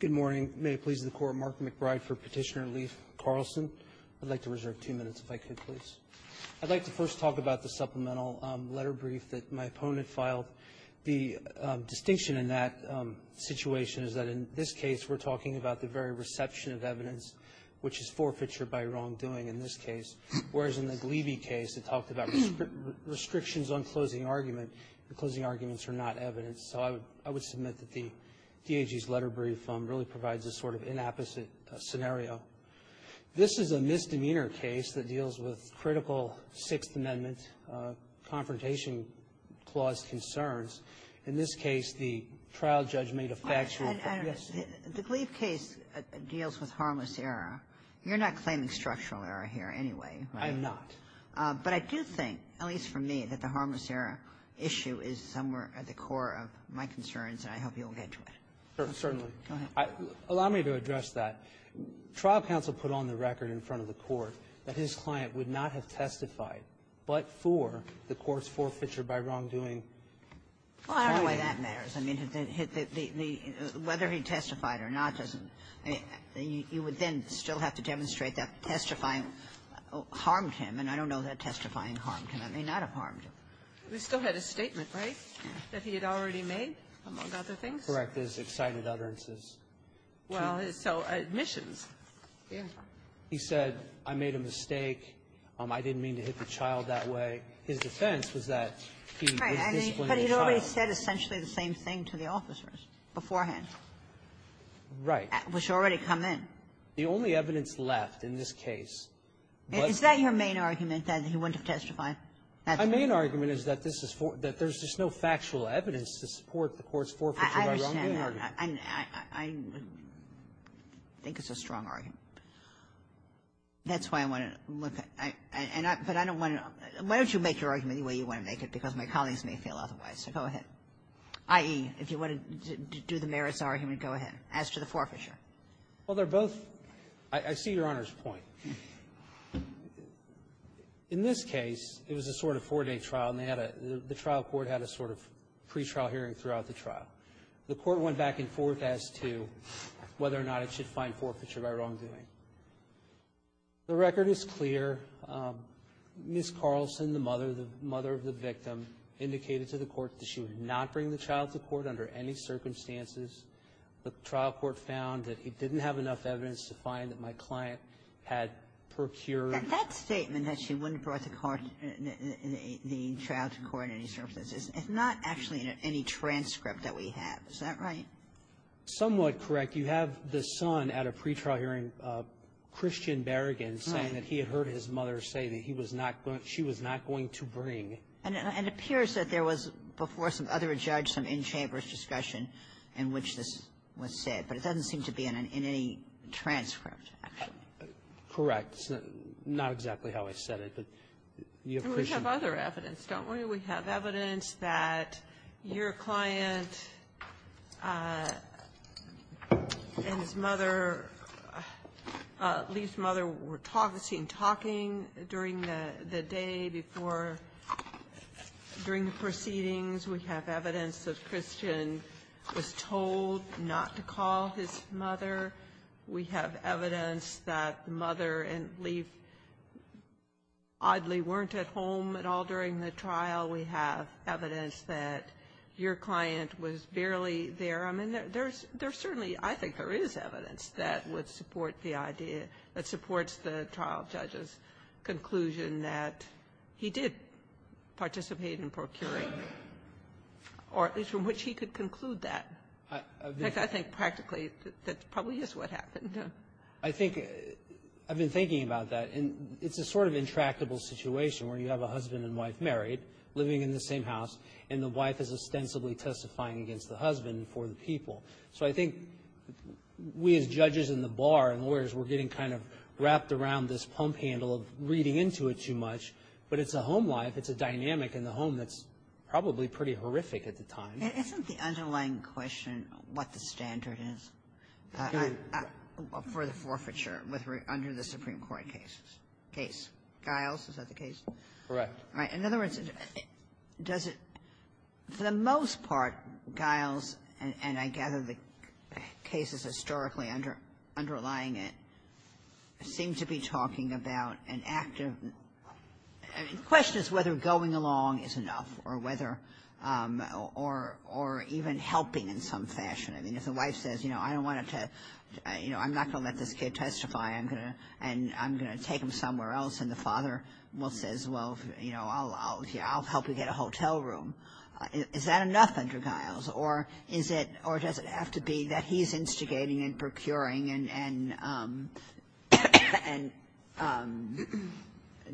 Good morning. May it please the Court, Mark McBride for Petitioner Leif Carlson. I'd like to reserve two minutes if I could, please. I'd like to first talk about the supplemental letter brief that my opponent filed. The distinction in that situation is that in this case, we're talking about the very reception of evidence, which is forfeiture by wrongdoing in this case, whereas in the Gleevee case, it talked about restrictions on closing argument. The closing arguments are not evidence. So I would submit that the DAG's letter brief really provides a sort of inapposite scenario. This is a misdemeanor case that deals with critical Sixth Amendment confrontation clause concerns. In this case, the trial judge made a facture of the – yes? The Gleevee case deals with harmless error. You're not claiming structural error here anyway, right? I'm not. But I do think, at least for me, that the harmless error issue is somewhere at the core of my concerns, and I hope you'll get to it. Certainly. Go ahead. Allow me to address that. Trial counsel put on the record in front of the Court that his client would not have testified but for the court's forfeiture by wrongdoing. Well, I don't know why that matters. I mean, the – whether he testified or not doesn't – you would then still have to demonstrate that testifying harmed him. And I don't know that testifying harmed him. It may not have harmed him. He still had a statement, right, that he had already made, among other things? Correct. His excited utterances. Well, so admissions. Yeah. He said, I made a mistake. I didn't mean to hit the child that way. His defense was that he was disciplining the child. Right. But he had already said essentially the same thing to the officers beforehand. Right. Which already come in. The only evidence left in this case was the – Is that your main argument, that he wouldn't have testified? My main argument is that this is – that there's just no factual evidence to support the court's forfeiture by wrongdoing argument. I think it's a strong argument. That's why I want to look at – and I – but I don't want to – why don't you make your argument the way you want to make it, because my colleagues may feel otherwise. So go ahead, i.e., if you want to do the merits argument, go ahead, as to the forfeiture. Well, they're both – I see Your Honor's point. In this case, it was a sort of four-day trial, and they had a – the trial court had a sort of pretrial hearing throughout the trial. The court went back and forth as to whether or not it should find forfeiture by wrongdoing. The record is clear. Ms. Carlson, the mother of the victim, indicated to the court that she would not bring the child to court under any circumstances. The trial court found that it didn't have enough evidence to find that my client had procured – And that statement, that she wouldn't have brought the child to court under any circumstances, is not actually in any transcript that we have. Is that right? Somewhat correct. You have the son at a pretrial hearing, Christian Berrigan, saying that he had heard his mother say that he was not going – she was not going to bring – And it appears that there was, before some other judge, some in-chambers discussion in which this was said. But it doesn't seem to be in any transcript, actually. Correct. It's not exactly how I said it, but you have Christian Berrigan. And we have other evidence, don't we? We have evidence that your client and his mother, Lee's mother, were seen talking during the day before – during the proceedings. We have evidence that Christian was told not to call his mother. We have evidence that mother and Lee oddly weren't at home at all during the trial. We have evidence that your client was barely there. I mean, there's – there's certainly – I think there is evidence that would support the idea – that supports the trial judge's conclusion that he did participate in procuring, or at least from which he could conclude that. I think practically that probably is what happened. I think – I've been thinking about that. And it's a sort of intractable situation where you have a husband and wife married, living in the same house, and the wife is ostensibly testifying against the husband for the people. So I think we as judges in the bar and lawyers, we're getting kind of wrapped around this pump handle of reading into it too much. But it's a home life. It's a dynamic in the home that's probably pretty horrific at the time. And isn't the underlying question what the standard is for the forfeiture with – under the Supreme Court case? Giles, is that the case? Correct. All right. In other words, does it – for the most part, Giles, and I gather the case is historically underlying it, seem to be talking about an active – I mean, the question is whether going along is enough or whether – or even helping in some fashion. I mean, if the wife says, you know, I don't want to – you know, I'm not going to let this kid testify. I'm going to – and I'm going to take him somewhere else. And the father, well, says, well, you know, I'll help you get a hotel room. Is that enough under Giles? Or is it – or does it have to be that he's instigating and procuring and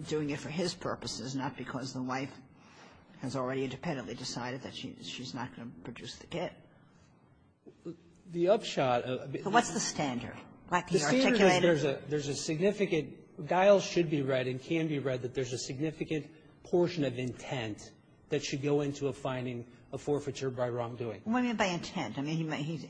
doing it for his purposes, not because the wife has already independently decided that she's not going to produce the kid? The upshot of the – What's the standard? The standard is there's a significant – Giles should be read and can be read that there's a significant portion of intent that should go into a finding of forfeiture by wrongdoing. What do you mean by intent? I mean, he's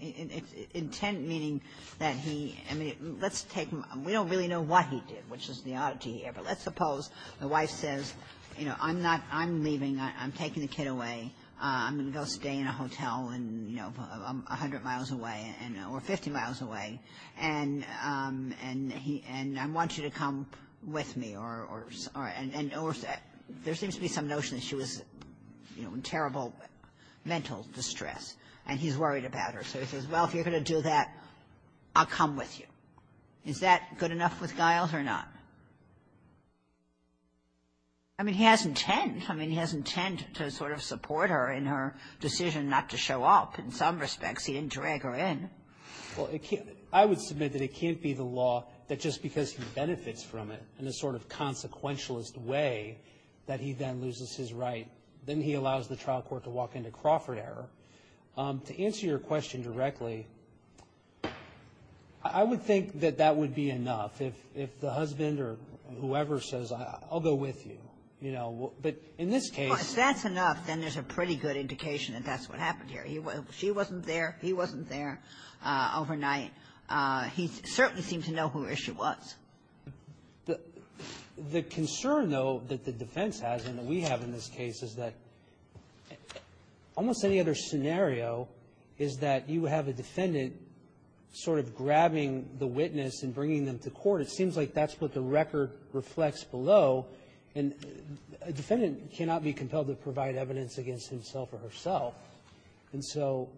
– intent meaning that he – I mean, let's take – we don't really know what he did, which is the oddity here. Let's suppose the wife says, you know, I'm not – I'm leaving. I'm taking the kid away. I'm going to go stay in a hotel and, you know, I'm 100 miles away and – or 50 miles away, and he – and I want you to come with me or – and there seems to be some notion that she was, you know, in terrible mental distress, and he's worried about her. So he says, well, if you're going to do that, I'll come with you. Is that good enough with Giles or not? I mean, he has intent. I mean, he has intent to sort of support her in her decision not to show up in some respects. He didn't drag her in. Well, it can't – I would submit that it can't be the law that just because he benefits from it in a sort of consequentialist way that he then loses his right. Then he allows the trial court to walk into Crawford error. To answer your question directly, I would think that that would be enough. If – if the husband or whoever says, I'll go with you, you know, but in this case – Well, if that's enough, then there's a pretty good indication that that's what happened here. He – she wasn't there. He wasn't there overnight. He certainly seemed to know where she was. The concern, though, that the defense has and that we have in this case is that almost any other scenario is that you have a defendant sort of grabbing the witness and bringing them to court. It seems like that's what the record reflects below, and a defendant cannot be compelled to provide evidence against himself or herself. And so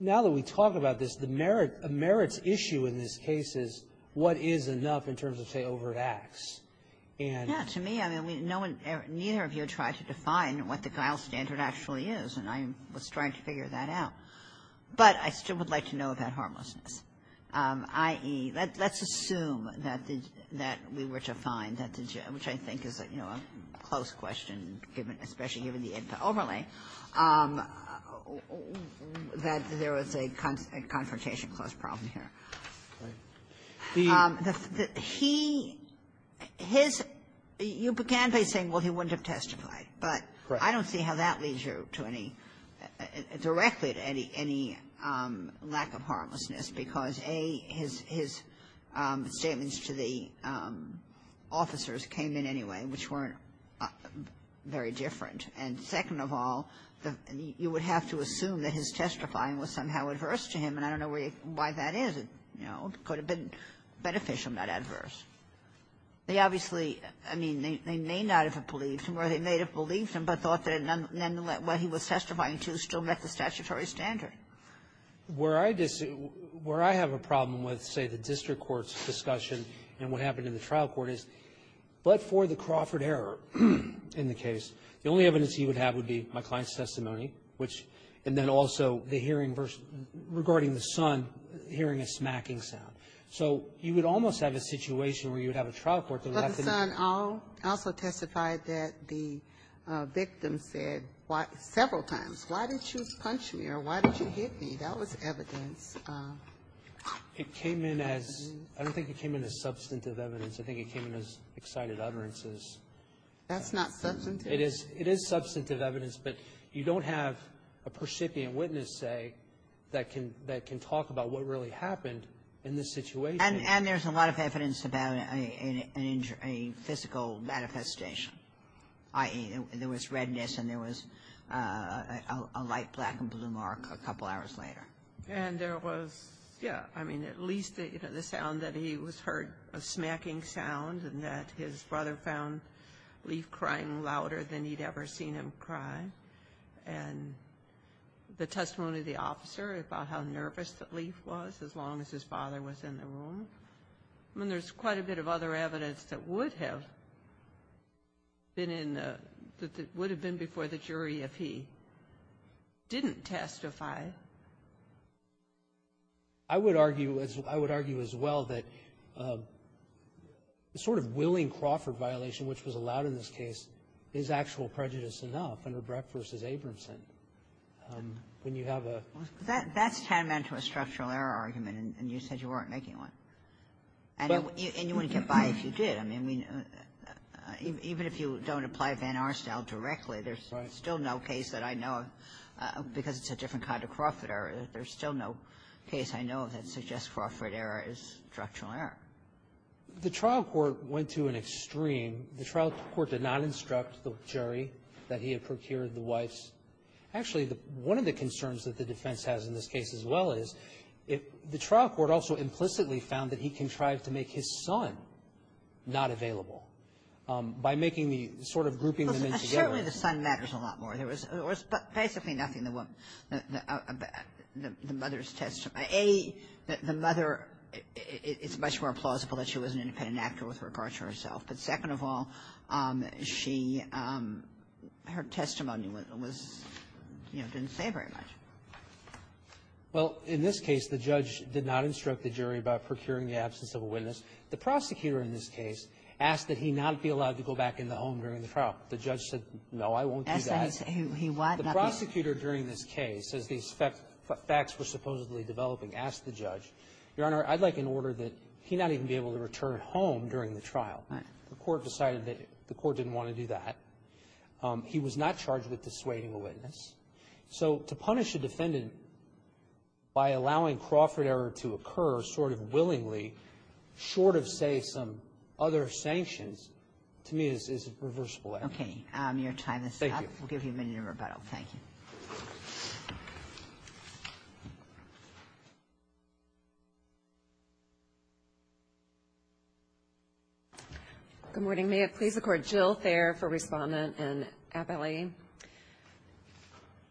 now that we talk about this, the merits issue in this case is what is enough in terms of, say, overt acts. And – Yeah. To me, I mean, no one – neither of you tried to define what the guile standard actually is, and I was trying to figure that out. But I still would like to know about harmlessness. I.e., let's assume that the – that we were to find that the – which I think is, you know, a close question, especially given the interoverlay, that there was a confrontation clause problem here. The – he – his – you began by saying, well, he wouldn't have testified. But I don't see how that leads you to any – directly to any – any lack of harmlessness. Because, A, his – his statements to the officers came in anyway, which weren't very different. And second of all, the – you would have to assume that his testifying was somehow adverse to him. And I don't know where you – why that is. You know, it could have been beneficial, not adverse. They obviously – I mean, they may not have believed him, or they may have believed him, but thought that nonetheless what he was testifying to still met the statutory standard. Where I disagree – where I have a problem with, say, the district court's discussion and what happened in the trial court is, but for the Crawford error in the case, the only evidence he would have would be my client's testimony, which – and then also the hearing – regarding the son hearing a smacking sound. So you would almost have a situation where you would have a trial court that would have to do – But the son also testified that the victim said several times, why didn't you punch me, or why didn't you hit me? That was evidence. It came in as – I don't think it came in as substantive evidence. I think it came in as excited utterances. That's not substantive. It is substantive evidence, but you don't have a percipient witness, say, that can talk about what really happened in this situation. And there's a lot of evidence about a physical manifestation, i.e., there was a black and blue mark a couple hours later. And there was – yeah, I mean, at least the sound that he was heard, a smacking sound, and that his brother found Leif crying louder than he'd ever seen him cry, and the testimony of the officer about how nervous that Leif was, as long as his father was in the room. I mean, there's quite a bit of other evidence that would have been in – that didn't testify. I would argue as well that the sort of willing Crawford violation, which was allowed in this case, is actual prejudice enough under Brett v. Abramson. When you have a – That's tantamount to a structural error argument, and you said you weren't making one. And you wouldn't get by if you did. I mean, even if you don't apply Van Aerstel directly, there's still no case that I know of, because it's a different kind of Crawford error, there's still no case I know of that suggests Crawford error is structural error. The trial court went to an extreme. The trial court did not instruct the jury that he had procured the wife's – actually, one of the concerns that the defense has in this case as well is the trial court also implicitly found that he contrived to make his son not available by making the – sort of grouping them in together. Certainly the son matters a lot more. There was basically nothing that the mother's testimony – A, the mother, it's much more plausible that she was an independent actor with regard to herself. But second of all, she – her testimony was – you know, didn't say very much. Well, in this case, the judge did not instruct the jury about procuring the absence of a witness. The prosecutor in this case asked that he not be allowed to go back in the home during the trial. The judge said, no, I won't do that. He said he – he what? The prosecutor during this case, as these facts were supposedly developing, asked the judge, Your Honor, I'd like an order that he not even be able to return home during the trial. Right. The court decided that the court didn't want to do that. He was not charged with dissuading a witness. So to punish a defendant by allowing Crawford error to occur sort of willingly short of, say, some other sanctions, to me, is a reversible error. Okay. Your time is up. Thank you. We'll give you a minute of rebuttal. Thank you. Good morning. May it please the Court. Jill Thayer for Respondent and appellee. In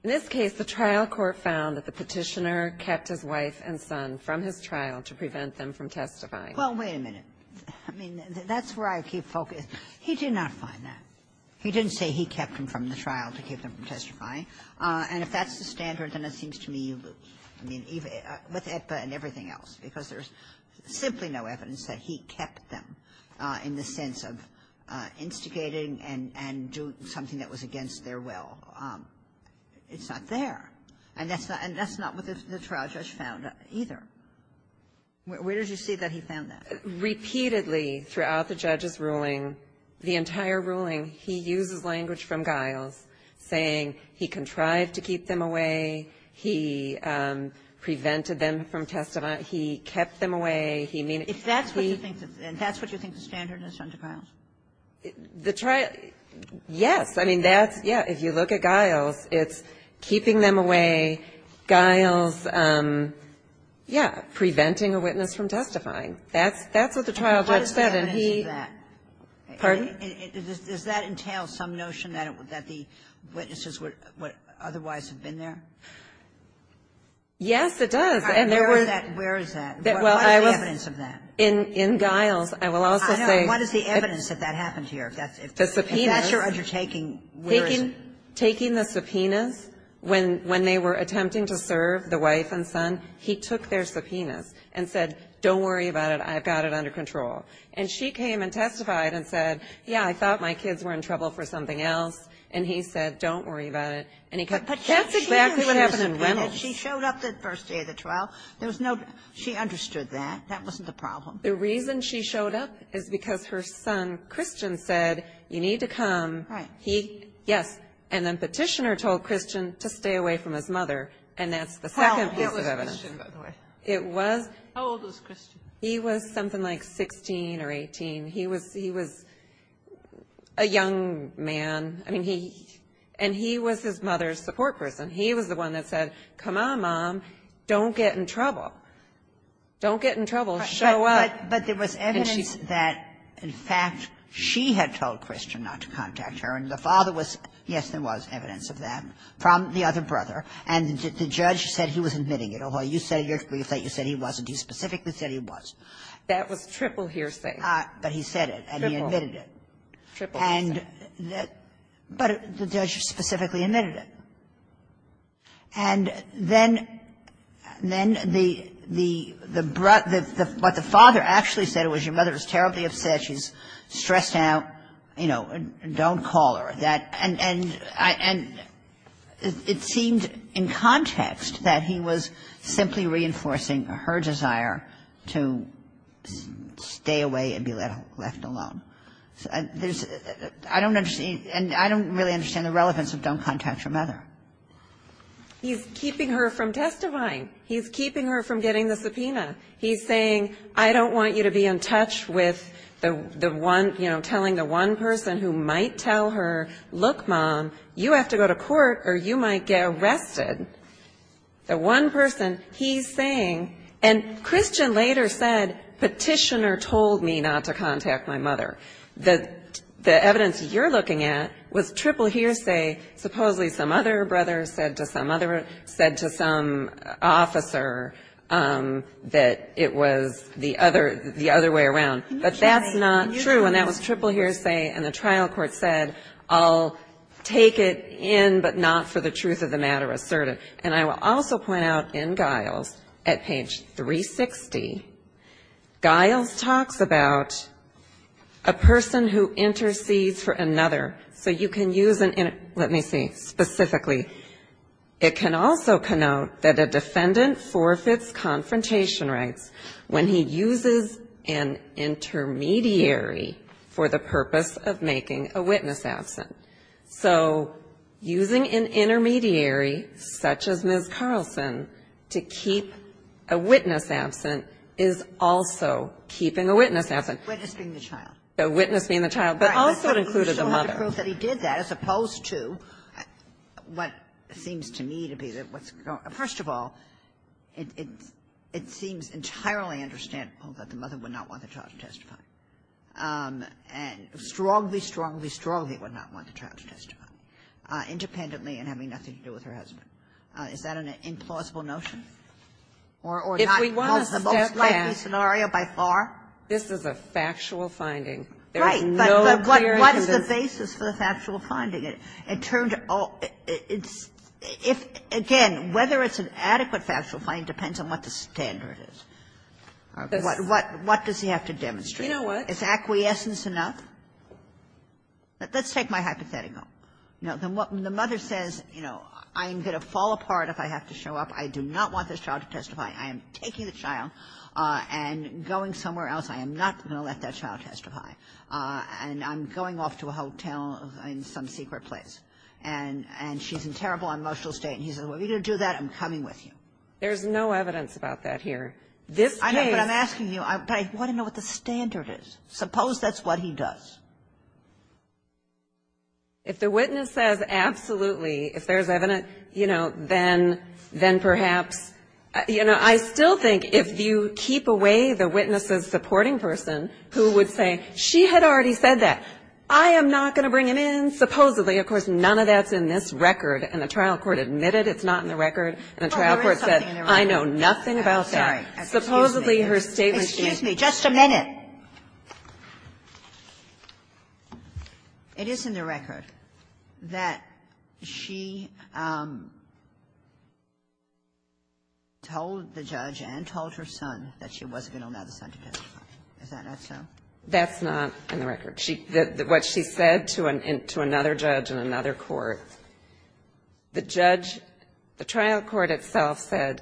this case, the trial court found that the petitioner kept his wife and son from his trial to prevent them from testifying. Well, wait a minute. I mean, that's where I keep focusing. He did not find that. He didn't say he kept them from the trial to keep them from testifying. And if that's the standard, then it seems to me, I mean, with AIPA and everything else, because there's simply no evidence that he kept them in the sense of instigating and doing something that was against their will. It's not there. And that's not what the trial judge found either. Where did you see that he found that? Repeatedly throughout the judge's ruling, the entire ruling, he uses language from Giles saying he contrived to keep them away, he prevented them from testifying, he kept them away, he meant it. If that's what you think, and that's what you think the standard is under Giles? The trial, yes. I mean, that's, yeah. If you look at Giles, it's keeping them away, Giles, yeah, preventing a witness from testifying. That's what the trial judge said. And he What is the evidence of that? Pardon? Does that entail some notion that the witnesses would otherwise have been there? Yes, it does. And there was Where is that? What is the evidence of that? In Giles, I will also say I know. What is the evidence that that happened here? If that's your undertaking, where is it? Taking the subpoenas when they were attempting to serve the wife and son, he took their subpoenas and said, don't worry about it, I've got it under control. And she came and testified and said, yeah, I thought my kids were in trouble for something else. And he said, don't worry about it. But that's exactly what happened in Reynolds. She showed up the first day of the trial. There was no She understood that. That wasn't the problem. The reason she showed up is because her son, Christian, said, you need to come. Right. He, yes. And then Petitioner told Christian to stay away from his mother, and that's the second piece of evidence. It was he was something like 16 or 18. He was he was a young man. I mean, he and he was his mother's support person. He was the one that said, come on, mom, don't get in trouble. Don't get in trouble. Show up. But there was evidence that, in fact, she had told Christian not to contact her. And the father was, yes, there was evidence of that from the other brother. And the judge said he was admitting it. Although you said you said he wasn't. He specifically said he was. That was triple hearsay. But he said it, and he admitted it. Triple. Triple hearsay. And that but the judge specifically admitted it. And then then the the the the what the father actually said was your mother was terribly upset. She's stressed out. You know, don't call her. That and and it seemed in context that he was simply reinforcing her desire to stay away and be left left alone. There's I don't understand. And I don't really understand the relevance of don't contact your mother. He's keeping her from testifying. He's keeping her from getting the subpoena. He's saying, I don't want you to be in touch with the one, you know, telling the one person who might tell her, look, mom, you have to go to court or you might get arrested. The one person he's saying, and Christian later said, petitioner told me not to contact my mother, that the evidence you're looking at was triple hearsay. Supposedly some other brother said to some other said to some officer that it was the other the other way around. But that's not true. And that was triple hearsay. And the trial court said, I'll take it in, but not for the truth of the matter asserted. And I will also point out in Giles at page 360, Giles talks about a person who intercedes for another. So you can use an let me say specifically, it can also connote that a defendant forfeits confrontation rights when he uses an intermediary for the purpose of making a witness absent. So using an intermediary such as Ms. Carlson to keep a witness absent is also keeping a witness absent. Kagan. A witness being the child. A witness being the child, but also included the mother. But he showed the proof that he did that, as opposed to what seems to me to be the First of all, it seems entirely understandable that the mother would not want the child to testify. And strongly, strongly, strongly would not want the child to testify, independently and having nothing to do with her husband. Is that an implausible notion? Or not the most likely scenario by far? This is a factual finding. Right. But what is the basis for the factual finding? It turns out it's – if, again, whether it's an adequate factual finding depends on what the standard is. What does he have to demonstrate? You know what? Is acquiescence enough? Let's take my hypothetical. You know, the mother says, you know, I'm going to fall apart if I have to show up. I do not want this child to testify. I am taking the child and going somewhere else. I am not going to let that child testify. And I'm going off to a hotel in some secret place. And she's in terrible emotional state. And he says, are you going to do that? I'm coming with you. There's no evidence about that here. This case – I know, but I'm asking you. I want to know what the standard is. Suppose that's what he does. If the witness says absolutely, if there's evidence, you know, then perhaps – you I still think if you keep away the witness's supporting person who would say, she had already said that, I am not going to bring him in, supposedly, of course, none of that's in this record. And the trial court admitted it's not in the record, and the trial court said, I know nothing about that. Supposedly, her statement – It is in the record that she told the judge and told her son that she wasn't going to allow the son to testify. Is that not so? That's not in the record. She – what she said to another judge in another court, the judge – the trial court itself said,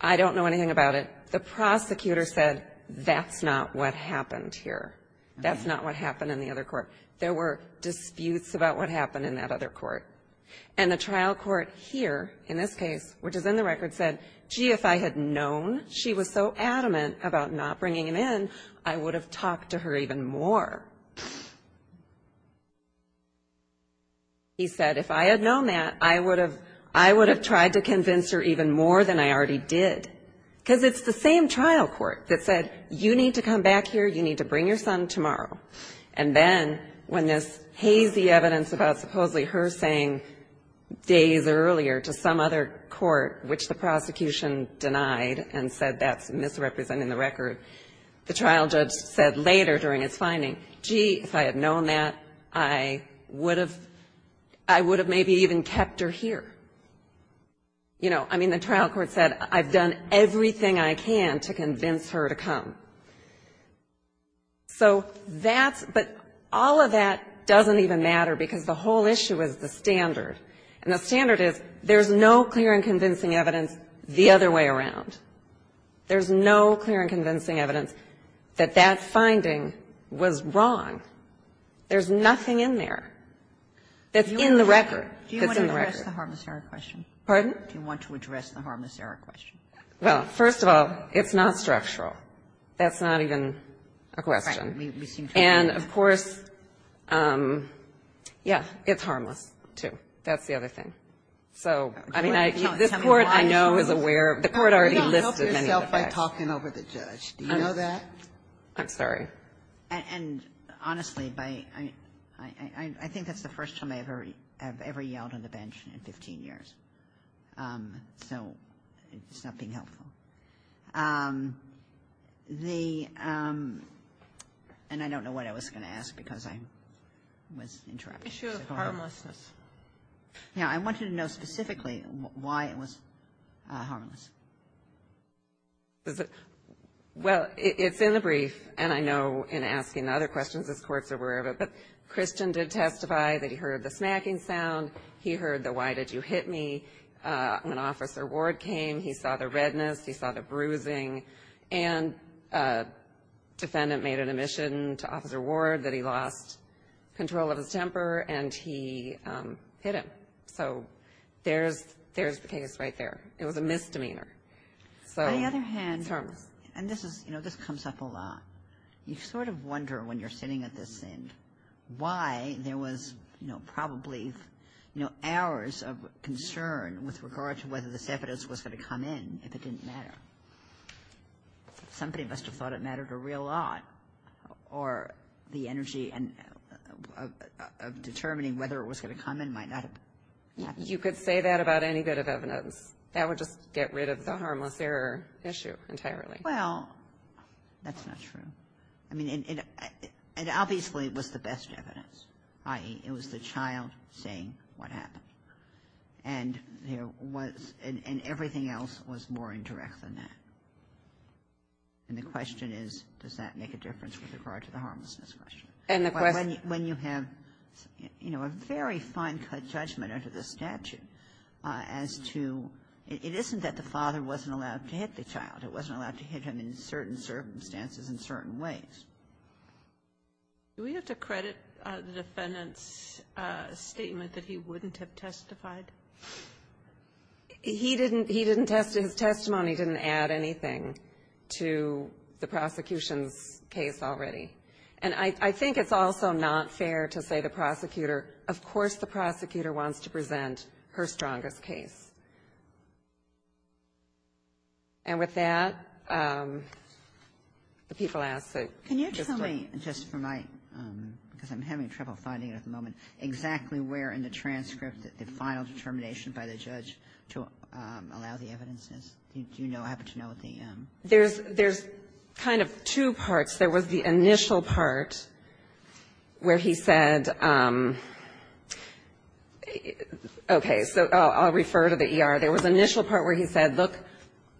I don't know anything about it. But the prosecutor said, that's not what happened here. That's not what happened in the other court. There were disputes about what happened in that other court. And the trial court here, in this case, which is in the record, said, gee, if I had known she was so adamant about not bringing him in, I would have talked to her even more. He said, if I had known that, I would have – I would have tried to convince her even more than I already did, because it's the same trial court that said, you need to come back here, you need to bring your son tomorrow. And then, when this hazy evidence about supposedly her saying days earlier to some other court, which the prosecution denied and said that's misrepresenting the record, the trial judge said later during his finding, gee, if I had known that, I would have – I would have maybe even kept her here. You know, I mean, the trial court said, I've done everything I can to convince her to come. So that's – but all of that doesn't even matter, because the whole issue is the standard. And the standard is, there's no clear and convincing evidence the other way around. There's no clear and convincing evidence that that finding was wrong. There's nothing in there that's in the record that's in the record. Ginsburg. Pardon? Do you want to address the harmless error question? Well, first of all, it's not structural. That's not even a question. And, of course, yeah, it's harmless, too. That's the other thing. So, I mean, this Court, I know, is aware of – the Court already listed many of the facts. You don't help yourself by talking over the judge. Do you know that? I'm sorry. And, honestly, I think that's the first time I've ever yelled on the bench in 15 years. So it's not being helpful. The – and I don't know what I was going to ask, because I was interrupting. The issue of harmlessness. Yeah, I wanted to know specifically why it was harmless. Is it – well, it's in the brief, and I know in asking the other questions this Court's aware of it, but Christian did testify that he heard the smacking sound. He heard the, why did you hit me, when Officer Ward came. He saw the redness. He saw the bruising. And a defendant made an admission to Officer Ward that he lost control of his temper, and he hit him. So there's the case right there. It was a misdemeanor. So it's harmless. On the other hand – and this is – you know, this comes up a lot. You sort of wonder when you're sitting at this end why there was, you know, probably, you know, hours of concern with regard to whether this evidence was going to come in if it didn't matter. Somebody must have thought it mattered a real lot, or the energy of determining whether it was going to come in might not have happened. You could say that about any bit of evidence. That would just get rid of the harmless error issue entirely. Well, that's not true. I mean, it obviously was the best evidence, i.e., it was the child saying what happened. And there was – and everything else was more indirect than that. And the question is, does that make a difference with regard to the harmlessness question? And the question – When you have, you know, a very fine-cut judgment under the statute as to – it isn't that the father wasn't allowed to hit the child. It wasn't allowed to hit him in certain circumstances in certain ways. Do we have to credit the defendant's statement that he wouldn't have testified? He didn't – he didn't – his testimony didn't add anything to the prosecution's case already. And I think it's also not fair to say the prosecutor – of course the prosecutor wants to present her strongest case. And with that, the people ask that – Can you tell me, just for my – because I'm having trouble finding it at the moment – exactly where in the transcript the final determination by the judge to allow the evidence is? Do you know – happen to know what the – There's kind of two parts. There was the initial part where he said – okay, so I'll refer to the ER. There was an initial part where he said, look,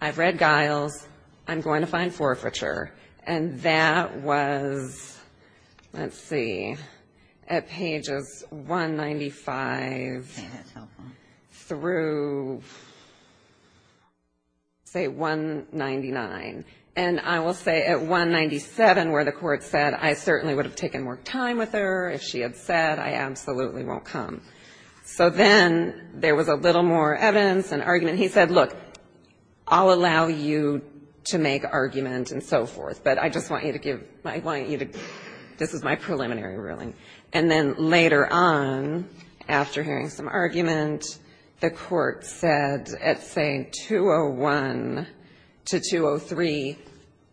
I've read Giles. I'm going to find forfeiture. And that was – let's see – at pages 195 through, say, 199. And I will say at 197 where the court said, I certainly would have taken more time with her if she had said, I absolutely won't come. So then there was a little more evidence and argument. He said, look, I'll allow you to make argument and so forth. But I just want you to give – I want you to – this is my preliminary ruling. And then later on, after hearing some argument, the court said at, say, 201 to 203,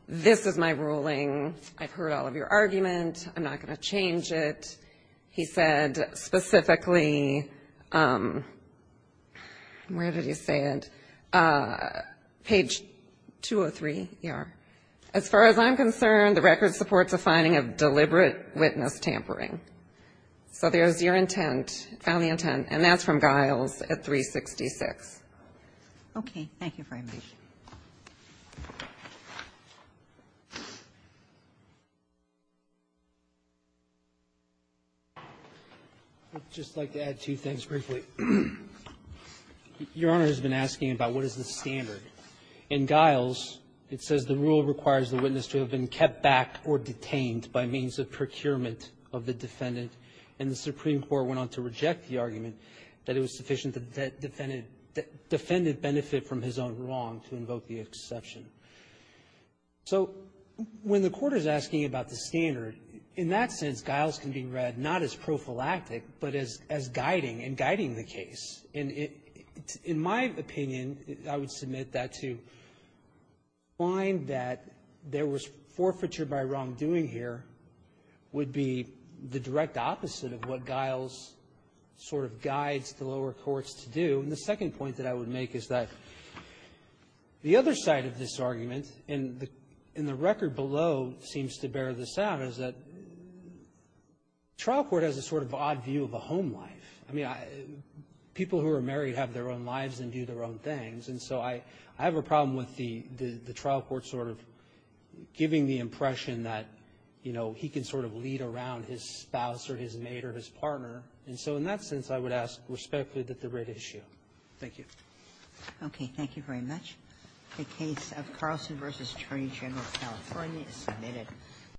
this is my ruling. I've heard all of your argument. I'm not going to change it. He said specifically – where did he say it? Page 203, ER. As far as I'm concerned, the record supports a finding of deliberate witness tampering. So there's your intent, found the intent, and that's from Giles at 366. Okay. Thank you for your time. I'd just like to add two things briefly. Your Honor has been asking about what is the standard. In Giles, it says the rule requires the witness to have been kept back or detained by means of procurement of the defendant. And the Supreme Court went on to reject the argument that it was sufficient that the defendant benefit from his own wrong to invoke the exception. So when the Court is asking about the standard, in that sense, Giles can be read not as prophylactic, but as guiding and guiding the case. And in my opinion, I would submit that to find that there was forfeiture by wrongdoing here would be the direct opposite of what Giles sort of guides the lower courts to do. And the second point that I would make is that the other side of this argument, and the record below seems to bear this out, is that trial court has a sort of odd view of a home life. I mean, people who are married have their own lives and do their own things. And so I have a problem with the trial court sort of giving the impression that, you know, he can sort of lead around his spouse or his mate or his partner. And so in that sense, I would ask respectfully that the writ issue. Thank you. Okay. Thank you very much. The case of Carlson v. Attorney General of California is submitted.